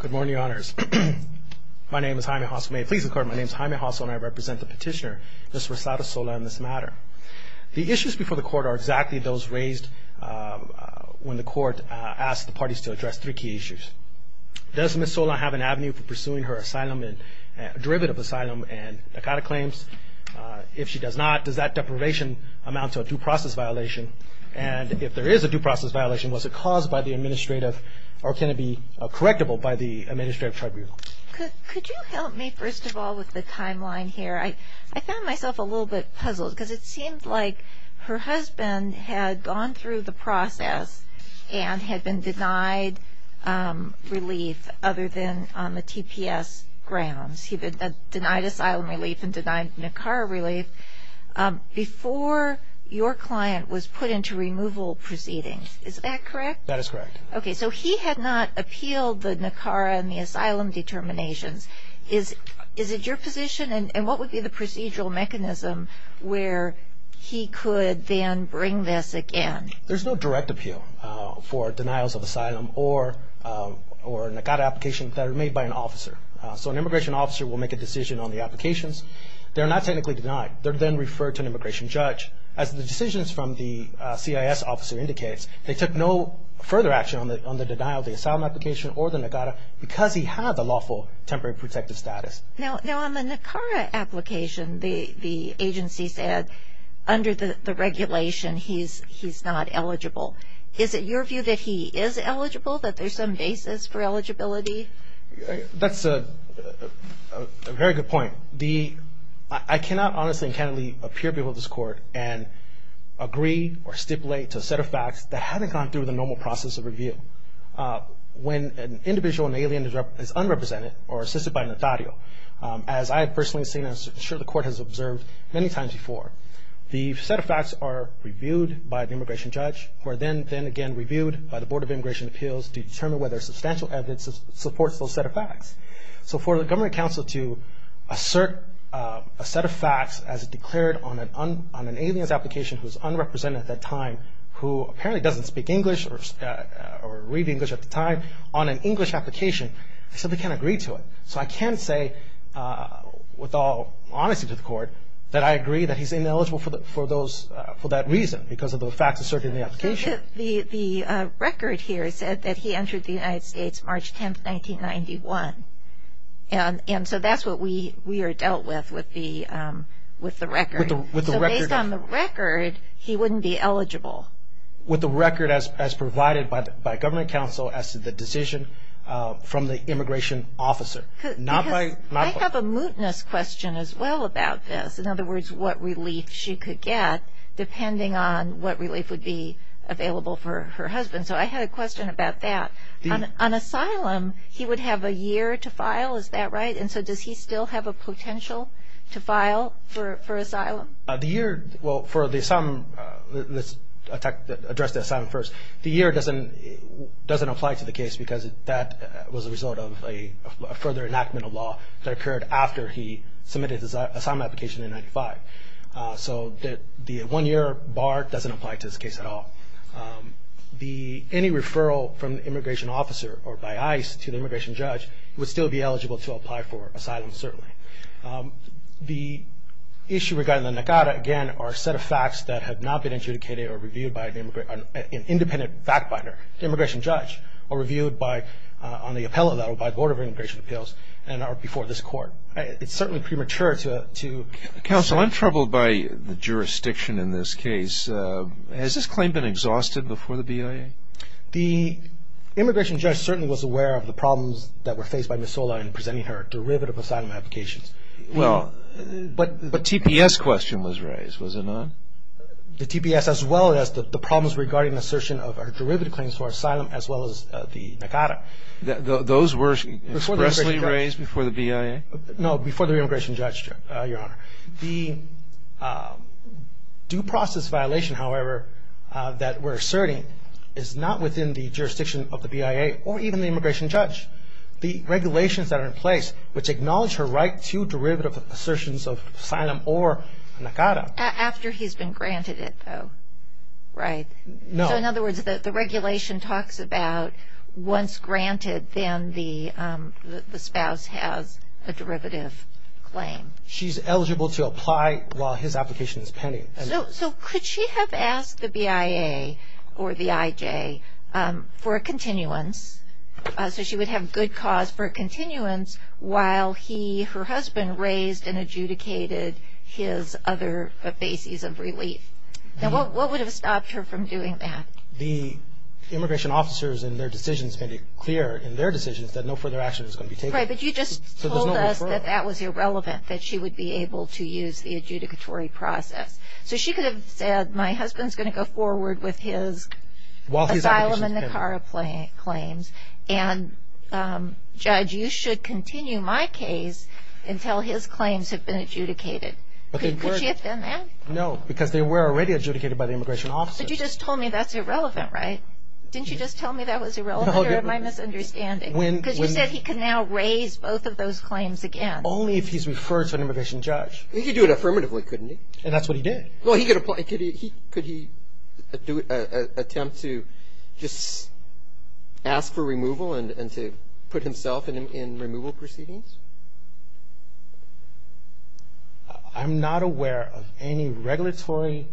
Good morning, Your Honors. My name is Jaime Hoss. May it please the Court, my name is Jaime Hoss, and I represent the petitioner, Ms. Rosada Sola, in this matter. The issues before the Court are exactly those raised when the Court asked the parties to address three key issues. Does Ms. Sola have an avenue for pursuing her derivative asylum and Dakota claims? If she does not, does that deprivation amount to a due process violation? And if there is a due process violation, was it caused by the administrative or can it be correctable by the administrative tribunal? Could you help me, first of all, with the timeline here? I found myself a little bit puzzled because it seemed like her husband had gone through the process and had been denied relief other than on the TPS grounds. He had denied asylum relief and denied NACARA relief before your client was put into removal proceedings. Is that correct? That is correct. Okay, so he had not appealed the NACARA and the asylum determinations. Is it your position, and what would be the procedural mechanism where he could then bring this again? There's no direct appeal for denials of asylum or NACARA applications that are made by an officer. So an immigration officer will make a decision on the applications. They're not technically denied. They're then referred to an immigration judge. As the decisions from the CIS officer indicates, they took no further action on the denial of the asylum application or the NACARA because he had the lawful temporary protective status. Now, on the NACARA application, the agency said under the regulation he's not eligible. Is it your view that he is eligible, that there's some basis for eligibility? That's a very good point. I cannot honestly and candidly appear before this Court and agree or stipulate to a set of facts that haven't gone through the normal process of review. When an individual, an alien, is unrepresented or assisted by an attorney, as I have personally seen and I'm sure the Court has observed many times before, the set of facts are reviewed by the immigration judge, who are then again reviewed by the Board of Immigration Appeals to determine whether substantial evidence supports those set of facts. So for the government counsel to assert a set of facts as declared on an alien's application who's unrepresented at that time, who apparently doesn't speak English or read English at the time on an English application, they simply can't agree to it. So I can say with all honesty to the Court that I agree that he's ineligible for that reason, because of the facts asserted in the application. The record here said that he entered the United States March 10, 1991. And so that's what we are dealt with, with the record. So based on the record, he wouldn't be eligible. With the record as provided by government counsel as to the decision from the immigration officer. I have a mootness question as well about this. In other words, what relief she could get depending on what relief would be available for her husband. So I had a question about that. On asylum, he would have a year to file, is that right? And so does he still have a potential to file for asylum? The year, well, for the asylum, let's address the asylum first. The year doesn't apply to the case because that was a result of a further enactment of law that occurred after he submitted his asylum application in 1995. So the one year bar doesn't apply to this case at all. Any referral from the immigration officer or by ICE to the immigration judge would still be eligible to apply for asylum, certainly. The issue regarding the NACADA, again, are a set of facts that have not been adjudicated or reviewed by an independent fact finder, immigration judge, or reviewed on the appellate level by the Board of Immigration Appeals and are before this court. It's certainly premature to say. Counsel, I'm troubled by the jurisdiction in this case. Has this claim been exhausted before the BIA? The immigration judge certainly was aware of the problems that were faced by Ms. Sola in presenting her derivative asylum applications. Well, the TPS question was raised, was it not? The TPS as well as the problems regarding assertion of her derivative claims for asylum as well as the NACADA. Those were expressly raised before the BIA? No, before the immigration judge, Your Honor. The due process violation, however, that we're asserting is not within the jurisdiction of the BIA or even the immigration judge. The regulations that are in place, which acknowledge her right to derivative assertions of asylum or NACADA. After he's been granted it, though, right? No. So, in other words, the regulation talks about once granted, then the spouse has a derivative claim. She's eligible to apply while his application is pending. So, could she have asked the BIA or the IJ for a continuance so she would have good cause for a continuance while he, her husband raised and adjudicated his other bases of relief? Now, what would have stopped her from doing that? The immigration officers in their decisions made it clear in their decisions that no further action is going to be taken. Right, but you just told us that that was irrelevant, that she would be able to use the adjudicatory process. So, she could have said, my husband's going to go forward with his asylum and NACADA claims, and judge, you should continue my case until his claims have been adjudicated. Could she have done that? No, because they were already adjudicated by the immigration officers. But you just told me that's irrelevant, right? Didn't you just tell me that was irrelevant or am I misunderstanding? Because you said he could now raise both of those claims again. Only if he's referred to an immigration judge. He could do it affirmatively, couldn't he? And that's what he did. Well, could he attempt to just ask for removal and to put himself in removal proceedings? I'm not aware of any regulatory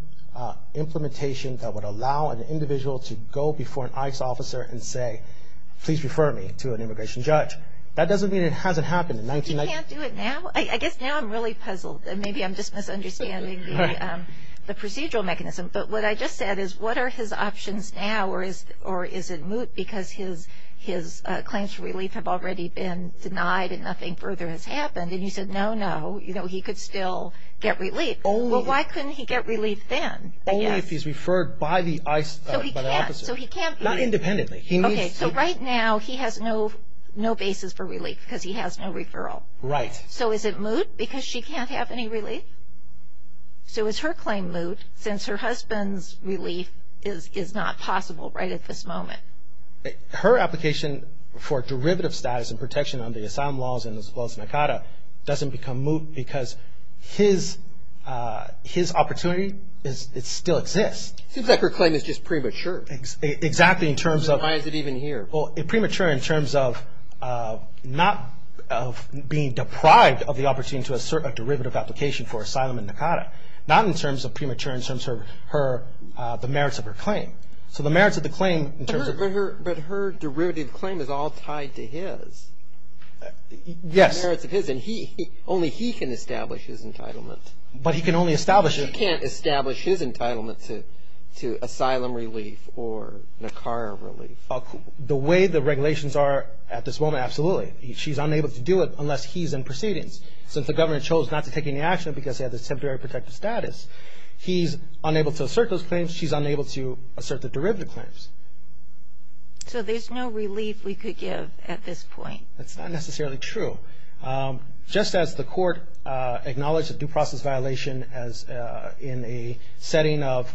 implementation that would allow an individual to go before an ICE officer and say, please refer me to an immigration judge. That doesn't mean it hasn't happened in 1990. He can't do it now? I guess now I'm really puzzled, and maybe I'm just misunderstanding the procedural mechanism. But what I just said is, what are his options now? Or is it moot because his claims for relief have already been denied and nothing further has happened? And you said, no, no, he could still get relief. Well, why couldn't he get relief then? Only if he's referred by the ICE, by the officer. So he can't be. Not independently. Okay, so right now he has no basis for relief because he has no referral. Right. So is it moot because she can't have any relief? So is her claim moot since her husband's relief is not possible right at this moment? Her application for derivative status and protection under the asylum laws as well as NACADA doesn't become moot because his opportunity still exists. It seems like her claim is just premature. Exactly. Why is it even here? Well, it's premature in terms of not being deprived of the opportunity to assert a derivative application for asylum in NACADA. Not in terms of premature in terms of the merits of her claim. So the merits of the claim in terms of But her derivative claim is all tied to his. Yes. The merits of his, and only he can establish his entitlement. But he can only establish it. She can't establish his entitlement to asylum relief or NACADA relief. The way the regulations are at this moment, absolutely. She's unable to do it unless he's in proceedings. Since the government chose not to take any action because he has a temporary protective status, he's unable to assert those claims, she's unable to assert the derivative claims. So there's no relief we could give at this point. That's not necessarily true. Just as the court acknowledged a due process violation in a setting of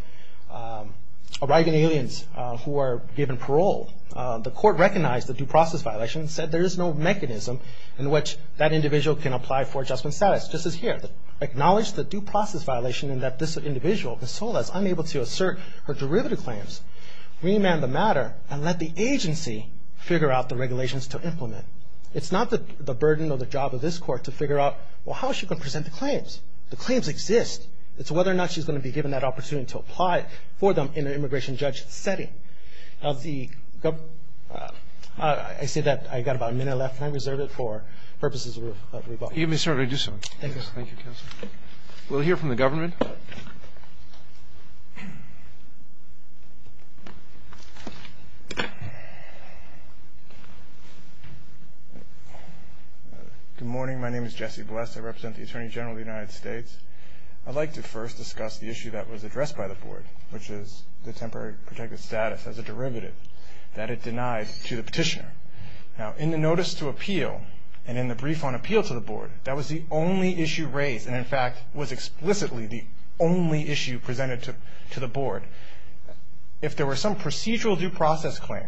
arriving aliens who are given parole, the court recognized the due process violation and said there is no mechanism in which that individual can apply for adjustment status. This is here. Acknowledge the due process violation in that this individual, Ms. Sola, is unable to assert her derivative claims. Remand the matter and let the agency figure out the regulations to implement. It's not the burden or the job of this court to figure out, well, how is she going to present the claims? The claims exist. It's whether or not she's going to be given that opportunity to apply for them in an immigration judge setting. I say that I've got about a minute left. Can I reserve it for purposes of rebuttal? You may certainly do so. Thank you. Thank you, counsel. We'll hear from the government. Good morning. My name is Jesse Bless. I represent the Attorney General of the United States. I'd like to first discuss the issue that was addressed by the board, which is the temporary protective status as a derivative that it denies to the petitioner. Now, in the notice to appeal and in the brief on appeal to the board, that was the only issue raised and, in fact, was explicitly the only issue presented to the board. If there were some procedural due process claim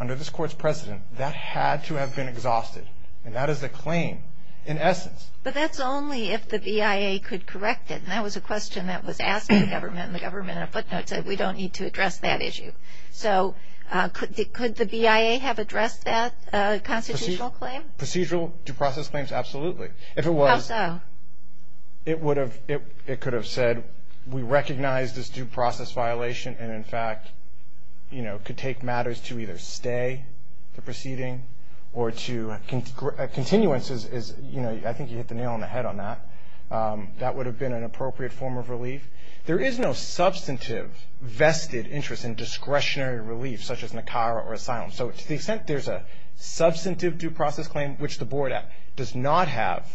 under this court's precedent, that had to have been exhausted, and that is the claim in essence. But that's only if the BIA could correct it, and that was a question that was asked of the government and the government in a footnote said, we don't need to address that issue. So could the BIA have addressed that constitutional claim? Procedural due process claims, absolutely. How so? It could have said, we recognize this due process violation, and, in fact, could take matters to either stay the proceeding or to a continuance. I think you hit the nail on the head on that. That would have been an appropriate form of relief. There is no substantive vested interest in discretionary relief, such as NACARA or asylum. So to the extent there's a substantive due process claim, which the board does not have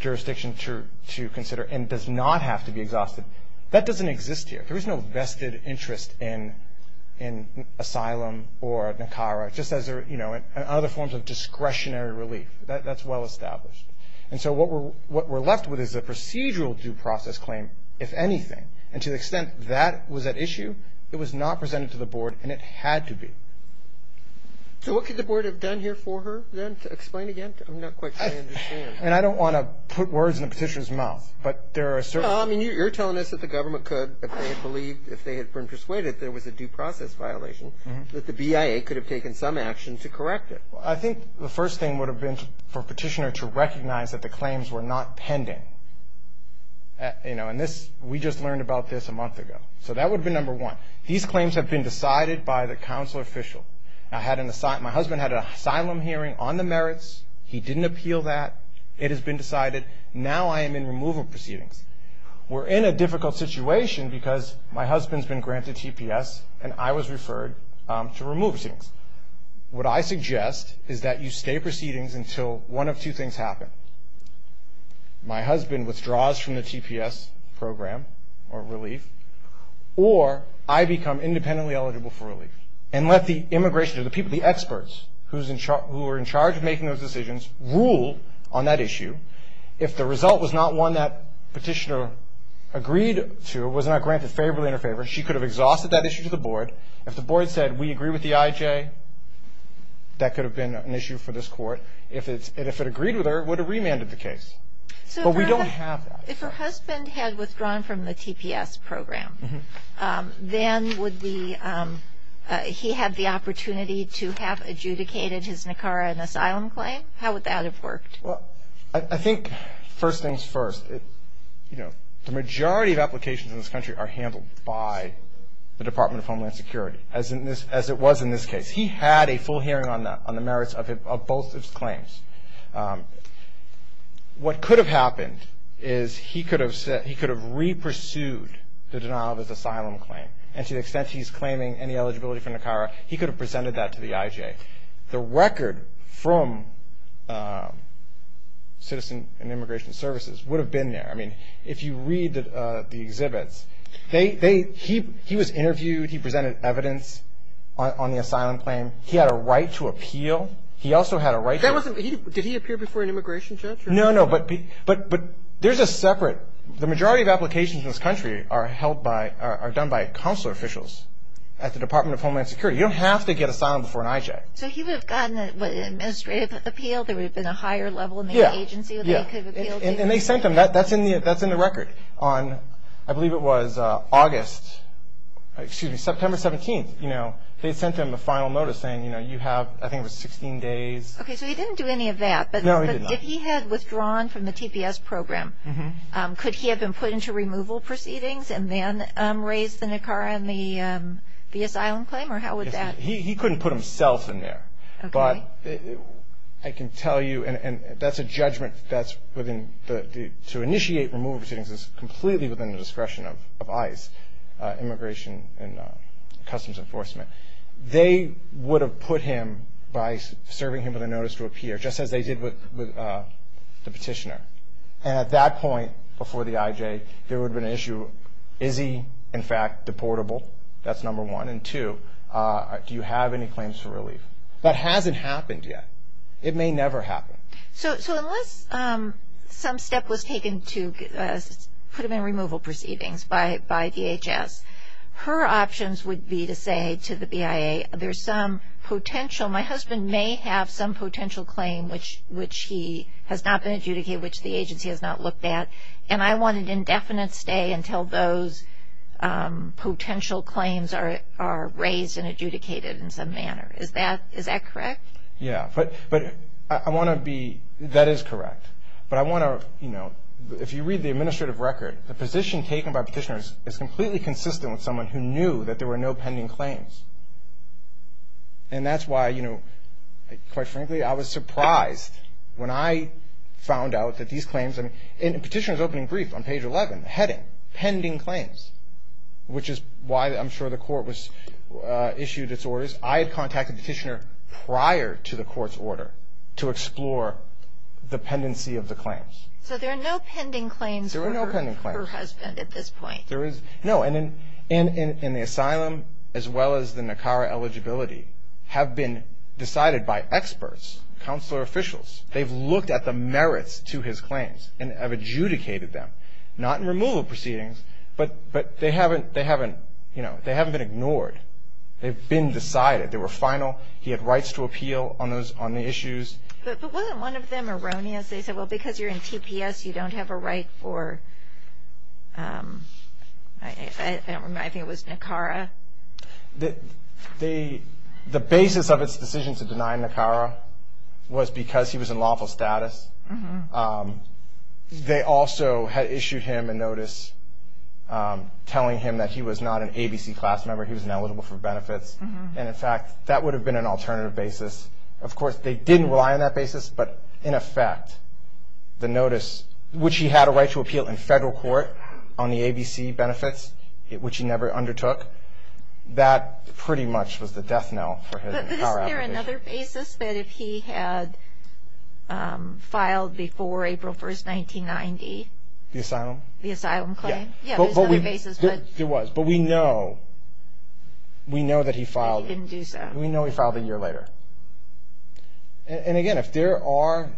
jurisdiction to consider and does not have to be exhausted, that doesn't exist here. There is no vested interest in asylum or NACARA, just as in other forms of discretionary relief. That's well established. And so what we're left with is a procedural due process claim, if anything, and to the extent that was at issue, it was not presented to the board and it had to be. So what could the board have done here for her, then, to explain again? I'm not quite sure I understand. And I don't want to put words in the Petitioner's mouth, but there are certain things. I mean, you're telling us that the government could, if they had believed, if they had been persuaded there was a due process violation, that the BIA could have taken some action to correct it. I think the first thing would have been for Petitioner to recognize that the claims were not pending. You know, and this, we just learned about this a month ago. So that would have been number one. These claims have been decided by the council official. My husband had an asylum hearing on the merits. He didn't appeal that. It has been decided. Now I am in removal proceedings. We're in a difficult situation because my husband's been granted TPS and I was referred to removal proceedings. What I suggest is that you stay proceedings until one of two things happen. My husband withdraws from the TPS program or relief, or I become independently eligible for relief and let the immigration, the experts who are in charge of making those decisions, rule on that issue. If the result was not one that Petitioner agreed to, was not granted favorably in her favor, she could have exhausted that issue to the board. If the board said, we agree with the IJ, that could have been an issue for this court. If it agreed with her, it would have remanded the case. But we don't have that. If her husband had withdrawn from the TPS program, then would he have the opportunity to have adjudicated his Nicaraguan asylum claim? How would that have worked? I think, first things first, the majority of applications in this country are handled by the Department of Homeland Security, as it was in this case. What could have happened is he could have re-pursued the denial of his asylum claim. And to the extent he's claiming any eligibility for Nicara, he could have presented that to the IJ. The record from Citizen and Immigration Services would have been there. I mean, if you read the exhibits, he was interviewed. He presented evidence on the asylum claim. He had a right to appeal. He also had a right to appeal. Did he appear before an immigration judge? No, no, but there's a separate. The majority of applications in this country are done by consular officials at the Department of Homeland Security. You don't have to get asylum before an IJ. So he would have gotten an administrative appeal. There would have been a higher level in the agency that he could have appealed to. And they sent him. That's in the record on, I believe it was August, excuse me, September 17th. They sent him a final notice saying, you know, you have, I think it was 16 days. Okay, so he didn't do any of that. No, he did not. But if he had withdrawn from the TPS program, could he have been put into removal proceedings and then raised the Nicara and the asylum claim, or how would that? He couldn't put himself in there. But I can tell you, and that's a judgment that's within the, to initiate removal proceedings is completely within the discretion of ICE, Immigration and Customs Enforcement. They would have put him by serving him with a notice to appear, just as they did with the petitioner. And at that point before the IJ, there would have been an issue. Is he, in fact, deportable? That's number one. And two, do you have any claims for relief? That hasn't happened yet. It may never happen. So unless some step was taken to put him in removal proceedings by DHS, her options would be to say to the BIA, there's some potential, my husband may have some potential claim which he has not been adjudicated, which the agency has not looked at, and I want an indefinite stay until those potential claims are raised and adjudicated in some manner. Is that correct? Yeah. But I want to be, that is correct. But I want to, you know, if you read the administrative record, the position taken by petitioners is completely consistent with someone who knew that there were no pending claims. And that's why, you know, quite frankly, I was surprised when I found out that these claims, and the petitioner's opening brief on page 11, the heading, pending claims, which is why I'm sure the court issued its orders. I had contacted the petitioner prior to the court's order to explore the pendency of the claims. So there are no pending claims for her husband at this point. No. And in the asylum, as well as the NACARA eligibility, have been decided by experts, counselor officials. They've looked at the merits to his claims and have adjudicated them, not in removal proceedings, but they haven't, you know, they haven't been ignored. They've been decided. They were final. He had rights to appeal on the issues. But wasn't one of them erroneous? They said, well, because you're in TPS, you don't have a right for, I think it was NACARA. The basis of its decision to deny NACARA was because he was in lawful status. They also had issued him a notice telling him that he was not an ABC class member. He was ineligible for benefits. And, in fact, that would have been an alternative basis. Of course, they didn't rely on that basis. But, in effect, the notice, which he had a right to appeal in federal court on the ABC benefits, which he never undertook, that pretty much was the death knell for our application. But isn't there another basis that if he had filed before April 1, 1990? The asylum? The asylum claim? Yeah. Yeah, there's another basis. There was. But we know that he filed. He didn't do so. We know he filed a year later. And, again, if there are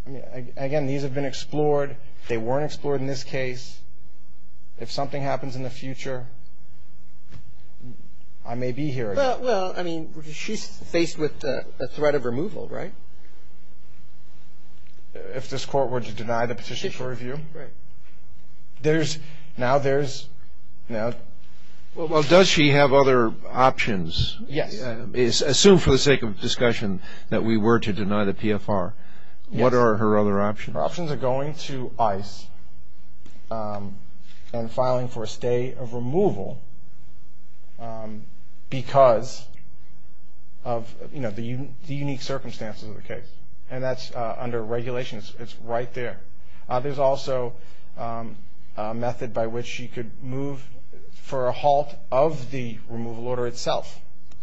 – again, these have been explored. They weren't explored in this case. If something happens in the future, I may be here again. Well, I mean, she's faced with a threat of removal, right? If this court were to deny the petition for review? Right. There's – now there's – now. Well, does she have other options? Yes. Assume for the sake of discussion that we were to deny the PFR. Yes. What are her other options? Her options are going to ICE and filing for a stay of removal because of, you know, the unique circumstances of the case. And that's under regulations. It's right there. There's also a method by which she could move for a halt of the removal order itself,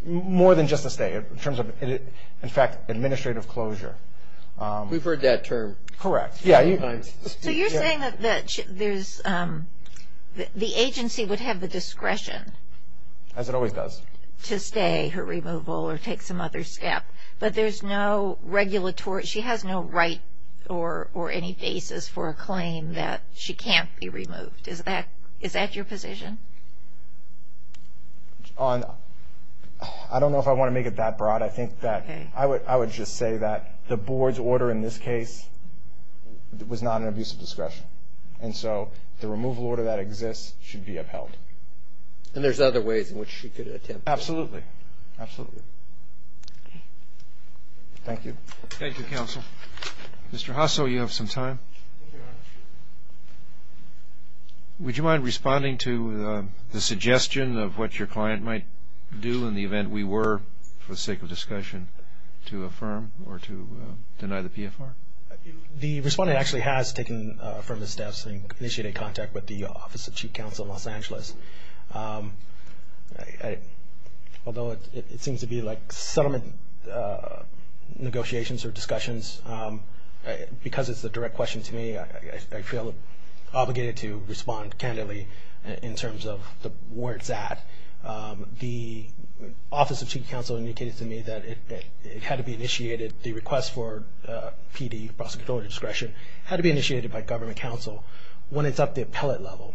more than just a stay in terms of, in fact, administrative closure. We've heard that term. Correct. Yeah. So you're saying that there's – the agency would have the discretion. As it always does. To stay her removal or take some other step. But there's no regulatory – she has no right or any basis for a claim that she can't be removed. Is that your position? I don't know if I want to make it that broad. I think that I would just say that the board's order in this case was not an abuse of discretion. And so the removal order that exists should be upheld. And there's other ways in which she could attempt this. Absolutely. Absolutely. Okay. Thank you. Thank you, Counsel. Mr. Hasso, you have some time. Thank you, Your Honor. Would you mind responding to the suggestion of what your client might do in the event we were, for the sake of discussion, to affirm or to deny the PFR? The respondent actually has taken affirmative steps and initiated contact with the Office of Chief Counsel in Los Angeles. Although it seems to be like settlement negotiations or discussions, because it's a direct question to me, I feel obligated to respond candidly in terms of where it's at. The Office of Chief Counsel indicated to me that it had to be initiated, the request for PD, prosecutorial discretion, had to be initiated by government counsel when it's up the appellate level.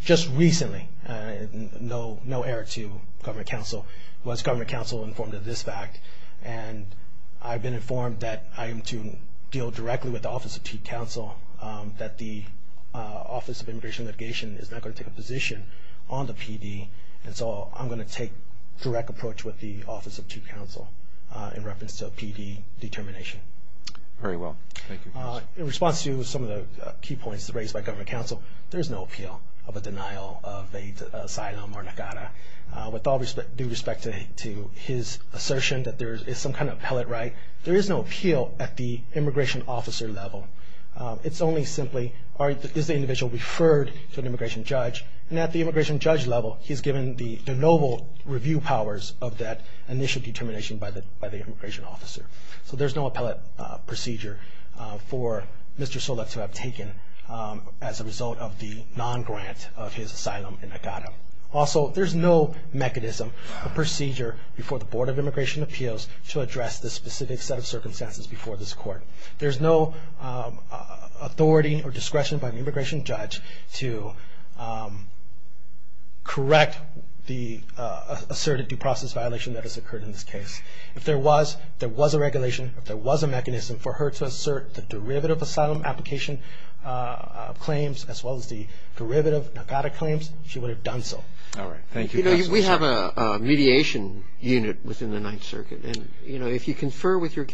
Just recently, no error to government counsel, was government counsel informed of this fact. And I've been informed that I am to deal directly with the Office of Chief Counsel, that the Office of Immigration and Litigation is not going to take a position on the PD. And so I'm going to take direct approach with the Office of Chief Counsel in reference to a PD determination. Very well. Thank you. In response to some of the key points raised by government counsel, there is no appeal of a denial of an asylum or NACADA. With all due respect to his assertion that there is some kind of appellate right, there is no appeal at the immigration officer level. It's only simply, is the individual referred to an immigration judge? And at the immigration judge level, he's given the noble review powers of that initial determination by the immigration officer. So there's no appellate procedure for Mr. Soulek to have taken as a result of the non-grant of his asylum and NACADA. Also, there's no mechanism or procedure before the Board of Immigration Appeals to address this specific set of circumstances before this court. There's no authority or discretion by the immigration judge to correct the asserted due process violation that has occurred in this case. If there was, if there was a regulation, if there was a mechanism for her to assert the derivative asylum application claims as well as the derivative NACADA claims, she would have done so. All right. Thank you, counsel. You know, we have a mediation unit within the Ninth Circuit. And, you know, if you confer with your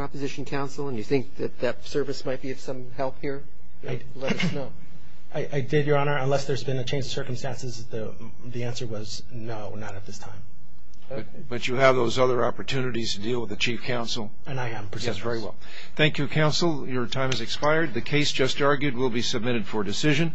opposition counsel and you think that that service might be of some help here, let us know. I did, Your Honor, unless there's been a change of circumstances. The answer was no, not at this time. But you have those other opportunities to deal with the chief counsel. And I am. Yes, very well. Thank you, counsel. Your time has expired. The case just argued will be submitted for decision.